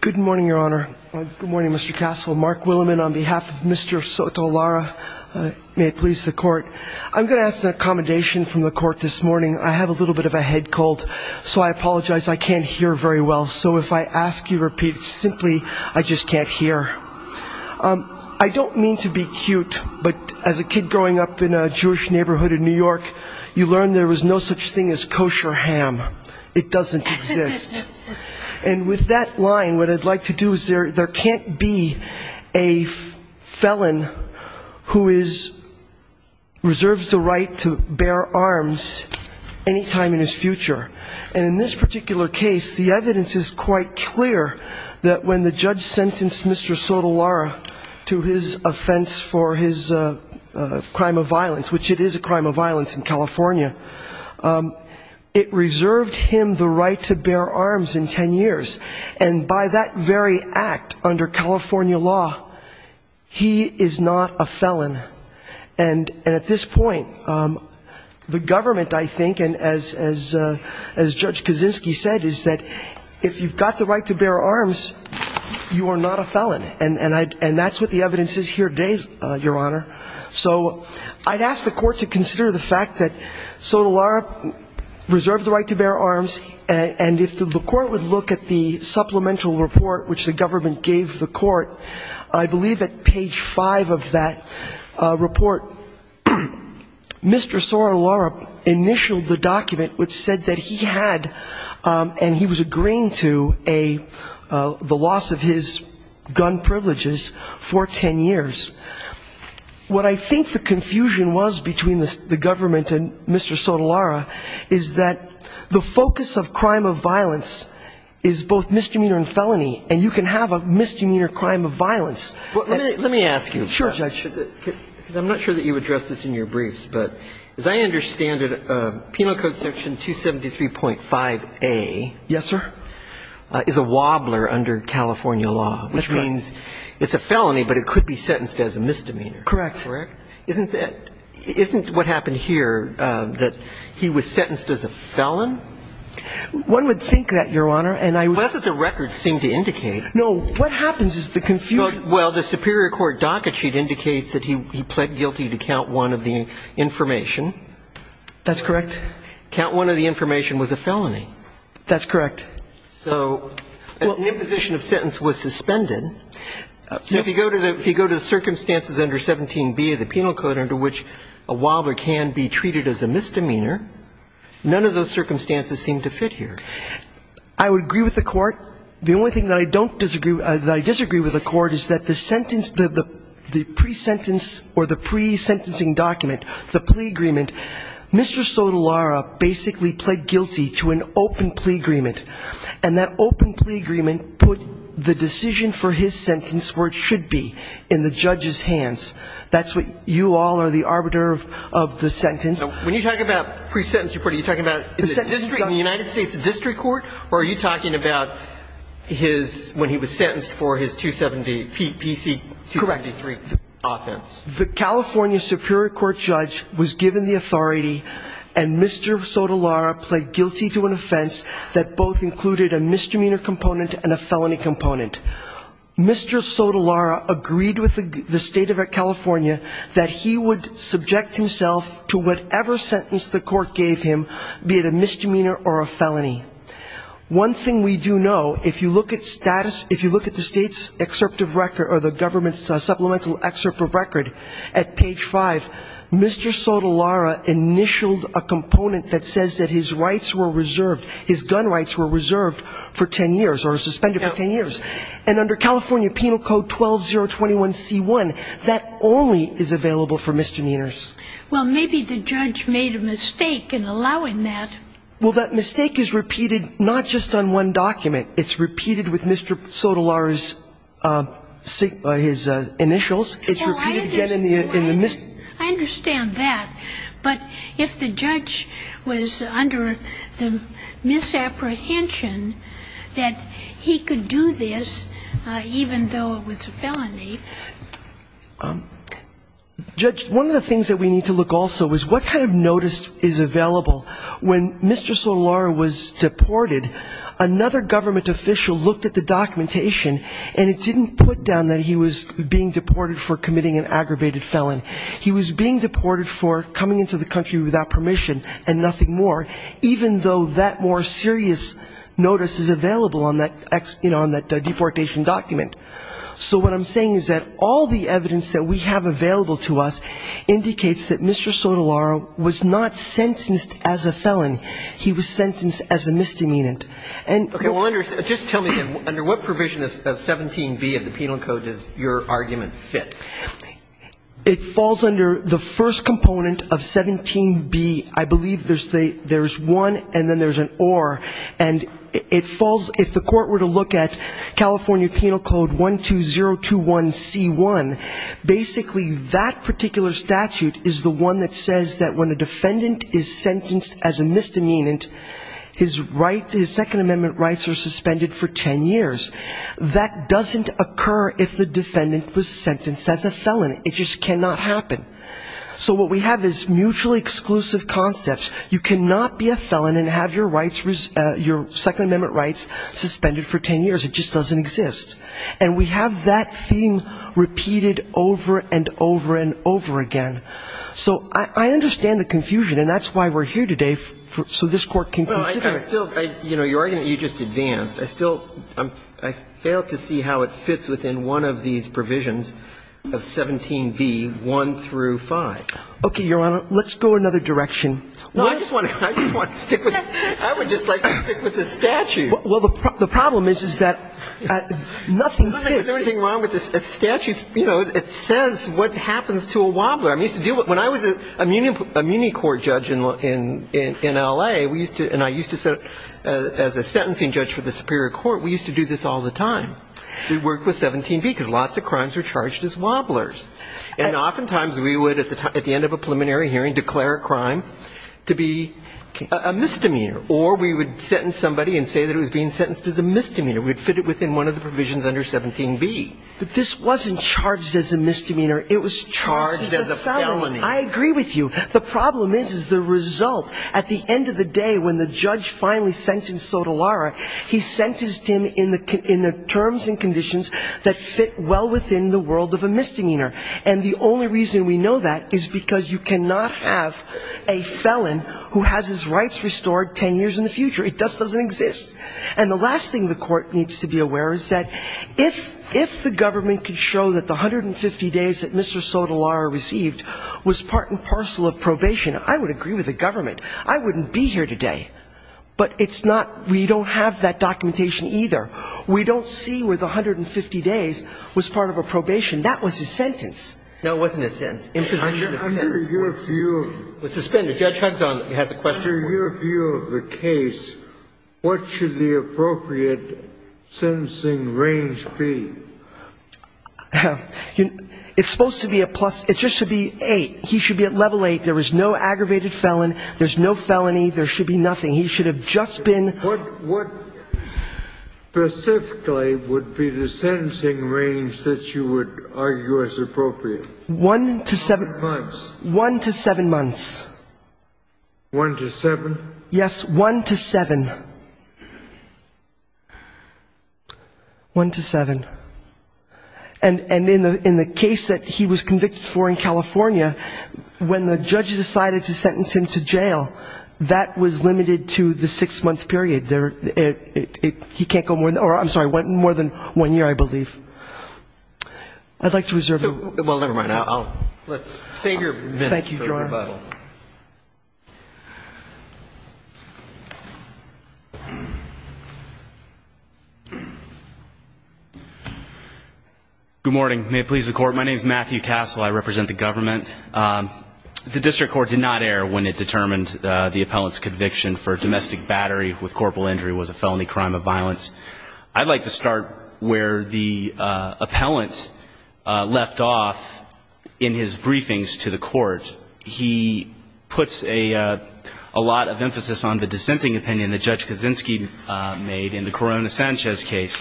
Good morning, Your Honor. Good morning, Mr. Castle. Mark Williman on behalf of Mr. Soto-Lara. May it please the court. I'm going to ask an accommodation from the court this morning. I have a little bit of a head cold, so I apologize. I can't hear very well. So if I ask you repeat simply, I just can't hear. I don't mean to be cute, but as a kid growing up in a Jewish neighborhood in New York, you learned there was no such thing as kosher ham. It doesn't exist. And with that line, what I'd like to do is there can't be a felon who is, reserves the right to bear arms any time in his future. And in this particular case, the evidence is quite clear that when the judge sentenced Mr. Soto-Lara to his offense for his crime of violence, which it is a crime of violence in California, it reserved him the right to bear arms in 10 years. And by that very act, under California law, he is not a felon. And at this point, the government, I think, and as Judge Kaczynski said, is that if you've got the right to bear arms, you are not a felon. And that's what the evidence is here today, Your Honor. So I'd ask the court to consider the fact that Soto-Lara reserved the right to bear arms, and if the court would look at the supplemental report which the government gave the court, I believe at page 5 of that report, Mr. Soto-Lara initialed the document which said that he had, and he was agreeing to, the loss of his gun privileges for 10 years. What I think the confusion was between the government and Mr. Soto-Lara is that the focus of crime of violence is both misdemeanor and felony, and you can have a misdemeanor crime of violence. Let me ask you, because I'm not sure that you addressed this in your briefs, but as I understand it, Penal Code Section 273.5a is a wobbler under California law, which means it's a felony, but it could be sentenced as a misdemeanor. Correct. Correct? Isn't that, isn't what happened here that he was sentenced as a felon? One would think that, Your Honor, and I was. Well, that's what the records seem to indicate. No, what happens is the confusion. Well, the superior court docket sheet indicates that he pled guilty to count one of the information. That's correct. Count one of the information was a felony. That's correct. So an imposition of sentence was suspended. So if you go to the circumstances under 17b of the penal code under which a wobbler can be treated as a misdemeanor, none of those circumstances seem to fit here. I would agree with the court. The only thing that I don't disagree with, that I disagree with the court is that the sentence, the pre-sentence or the pre-sentencing document, the plea agreement, Mr. Sotolara basically pled guilty to an open plea agreement, and that open plea agreement put the decision for his sentence where it should be, in the judge's hands. That's what you all are the arbiter of the sentence. When you talk about pre-sentence report, are you talking about in the United States district court, or are you talking about his, when he was sentenced for his 270, PC 273 offense? Correct. The California Superior Court judge was given the authority, and Mr. Sotolara agreed with the state of California that he would subject himself to whatever sentence the court gave him, be it a misdemeanor or a felony. One thing we do know, if you look at status, if you look at the state's excerpt of record, or the government's supplemental excerpt of record, at page five, Mr. Sotolara initialed a component that says that his rights were reserved, his gun rights were reserved for 10 years, or suspended for 10 years. And under California Penal Code 12021C1, that only is available for misdemeanors. Well, maybe the judge made a mistake in allowing that. Well, that mistake is repeated, not just on one document. It's repeated with Mr. Sotolara's initials. It's repeated again in the... I understand that. But if the judge was under the misapprehension that he could do this, even though it was a felony... Judge, one of the things that we need to look also is what kind of notice is available. When Mr. Sotolara was deported, another government official looked at the documentation, and it didn't put down that he was being deported for committing an aggravated felon. He was being deported for coming into the country without permission and nothing more, even though that more serious notice is available on that deportation document. So what I'm saying is that all the evidence that we have available to us indicates that Mr. Sotolara was not sentenced as a felon. He was sentenced as a misdemeanant. Okay, well, just tell me then, under what provision of 17B of the Penal Code does your argument fit? It falls under the first component of 17B. I believe there's one, and then there's an or. And it falls, if the court were to look at California Penal Code 12021C1, basically that particular statute is the one that says that when a defendant is sentenced as a misdemeanant, his second amendment rights are suspended for 10 years. That doesn't occur if the defendant was sentenced as a felon. It just cannot happen. So what we have is mutually exclusive concepts. You cannot be a felon and have your rights, your second amendment rights suspended for 10 years. It just doesn't exist. And we have that theme repeated over and over and over again. So I understand the confusion, and that's why we're here today, so this court can consider it. Your argument, you just advanced. I still, I failed to see how it fits within one of these provisions of 17B, 1 through 5. Okay, Your Honor, let's go another direction. No, I just want to stick with, I would just like to stick with the statute. Well, the problem is, is that nothing fits. There's nothing wrong with the statute. You know, it says what happens to a wobbler. When I was an immunity court judge in L.A., we used to, and I used to, as a sentencing judge for the superior court, we used to do this all the time. We'd work with 17B because lots of crimes were charged as wobblers. And oftentimes we would, at the end of a preliminary hearing, declare a crime to be a misdemeanor. Or we would sentence somebody and say that it was being sentenced as a misdemeanor. We'd fit it within one of the provisions under 17B. But this wasn't charged as a misdemeanor. It was charged as a felony. I agree with you. The problem is, is the result. At the end of the day, when the judge finally sentenced Sotolara, he sentenced him in the terms and conditions that fit well within the world of a misdemeanor. And the only reason we know that is because you cannot have a felon who has his rights restored 10 years in the future. It just doesn't exist. And the last thing the Court needs to be aware of is that if the government could show that the 150 days that Mr. Sotolara received was part and parcel of probation, I would agree with the government. I wouldn't be here today. But it's not we don't have that documentation either. We don't see where the 150 days was part of a probation. That was his sentence. Now, it wasn't a sentence. Imposition of sentence. Under your view of the case, what should the appropriate sentencing range be? It's supposed to be a plus. It just should be 8. He should be at level 8. There was no aggravated felon. There's no felony. There should be nothing. He should have just been. What specifically would be the sentencing range that you would argue as appropriate? One to seven months. One to seven? Yes, one to seven. One to seven. And in the case that he was convicted for in California, when the judge decided to sentence him to jail, that was limited to the six-month period. He can't go more than one year, I believe. I'd like to reserve the... Well, never mind. Let's save your minute for rebuttal. Good morning. May it please the Court. My name is Matthew Tassel. I represent the government. The district court did not err when it determined the appellant's conviction for domestic battery with corporal injury was a felony crime of violence. I'd like to start where the appellant left off in his briefings to the court. He puts a lot of emphasis on the dissenting opinion that Judge Kaczynski made in the Corona-Sanchez case.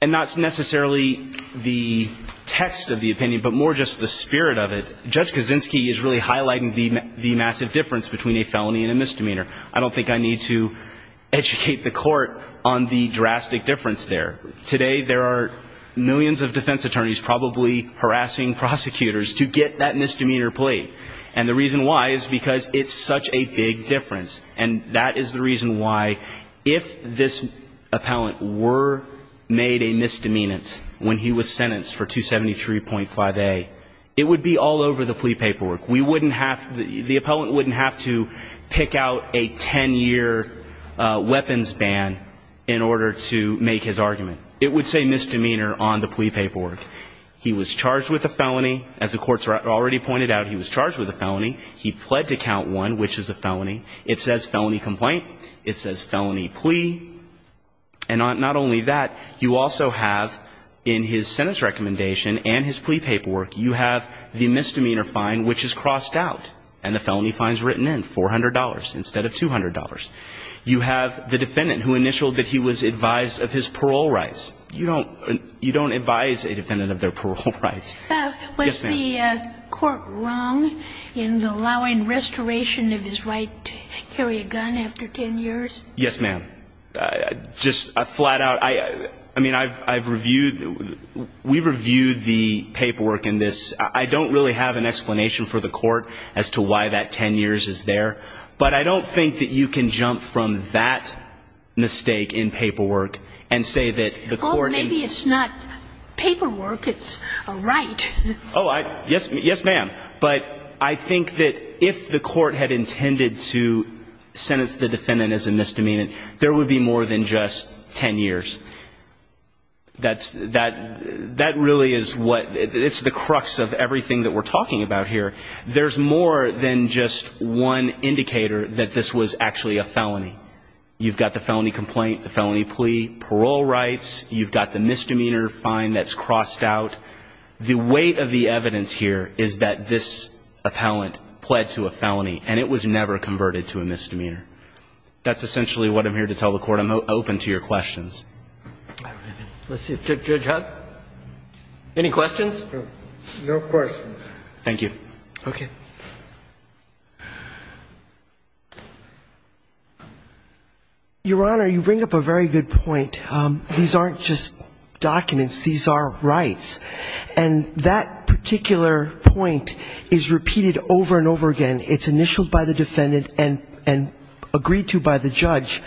And not necessarily the text of the opinion, but more just the spirit of it. Judge Kaczynski is really highlighting the massive difference between a felony and a misdemeanor. I don't think I need to educate the court on the drastic difference there. Today, there are millions of defense attorneys probably harassing prosecutors to get that misdemeanor plea. And the reason why is because it's such a big difference. And that is the reason why, if this appellant were made a misdemeanant when he was sentenced for 273.5A, it would be all over the plea paperwork. The appellant wouldn't have to pick out a 10-year weapons ban in order to make his argument. It would say misdemeanor on the plea paperwork. He was charged with a felony. As the courts already pointed out, he was charged with a felony. He pled to count one, which is a felony. It says felony complaint. It says felony plea. And not only that, you also have, in his sentence recommendation and his plea paperwork, you have the misdemeanor fine, which is crossed out. And the felony fine is written in, $400 instead of $200. You have the defendant who initialed that he was advised of his parole rights. You don't advise a defendant of their parole rights. Yes, ma'am. Was the court wrong in allowing restoration of his right to carry a gun after 10 years? Yes, ma'am. Just flat out, I mean, I've reviewed, we've reviewed the paperwork in this. I don't really have an explanation for the court as to why that 10 years is there. But I don't think that you can jump from that mistake in paperwork and say that the court... Or maybe it's not paperwork, it's a right. Oh, yes, ma'am. But I think that if the court had intended to sentence the defendant as a misdemeanor, there would be more than just 10 years. That really is what, it's the crux of everything that we're talking about here. There's more than just one indicator that this was actually a felony. You've got the felony complaint, the felony plea, parole rights. You've got the misdemeanor fine that's crossed out. The weight of the evidence here is that this appellant pled to a felony and it was never converted to a misdemeanor. That's essentially what I'm here to tell the court. I'm open to your questions. Let's see. Judge Hunt? Any questions? No questions. Thank you. Okay. Your Honor, you bring up a very good point. These aren't just documents. These are rights. And that particular point is repeated over and over again. It's initialed by the defendant and agreed to by the judge.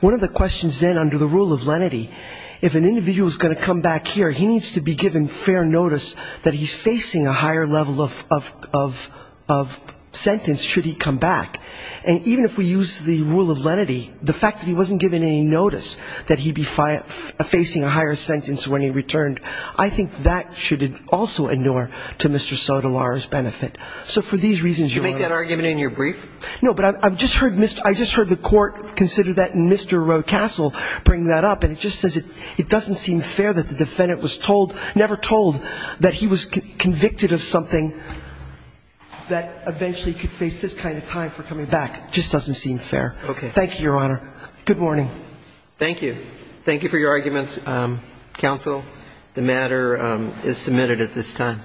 One of the questions then under the rule of lenity, if an individual is going to come back here, he needs to be given fair notice that he's facing a higher level of sentence should he come back. And even if we use the rule of lenity, the fact that he wasn't given any notice that he'd be facing a higher sentence when he returned, I think that should also inure to Mr. Sotolaro's benefit. So for these reasons, Your Honor. Did you make that argument in your brief? No, but I just heard the court consider that and Mr. Roecastle bring that up. And it just says it doesn't seem fair that the defendant was told, never told, that he was convicted of something that eventually could face this kind of time for coming back. It just doesn't seem fair. Okay. Thank you, Your Honor. Good morning. Thank you. Thank you for your arguments, counsel. The matter is submitted at this time.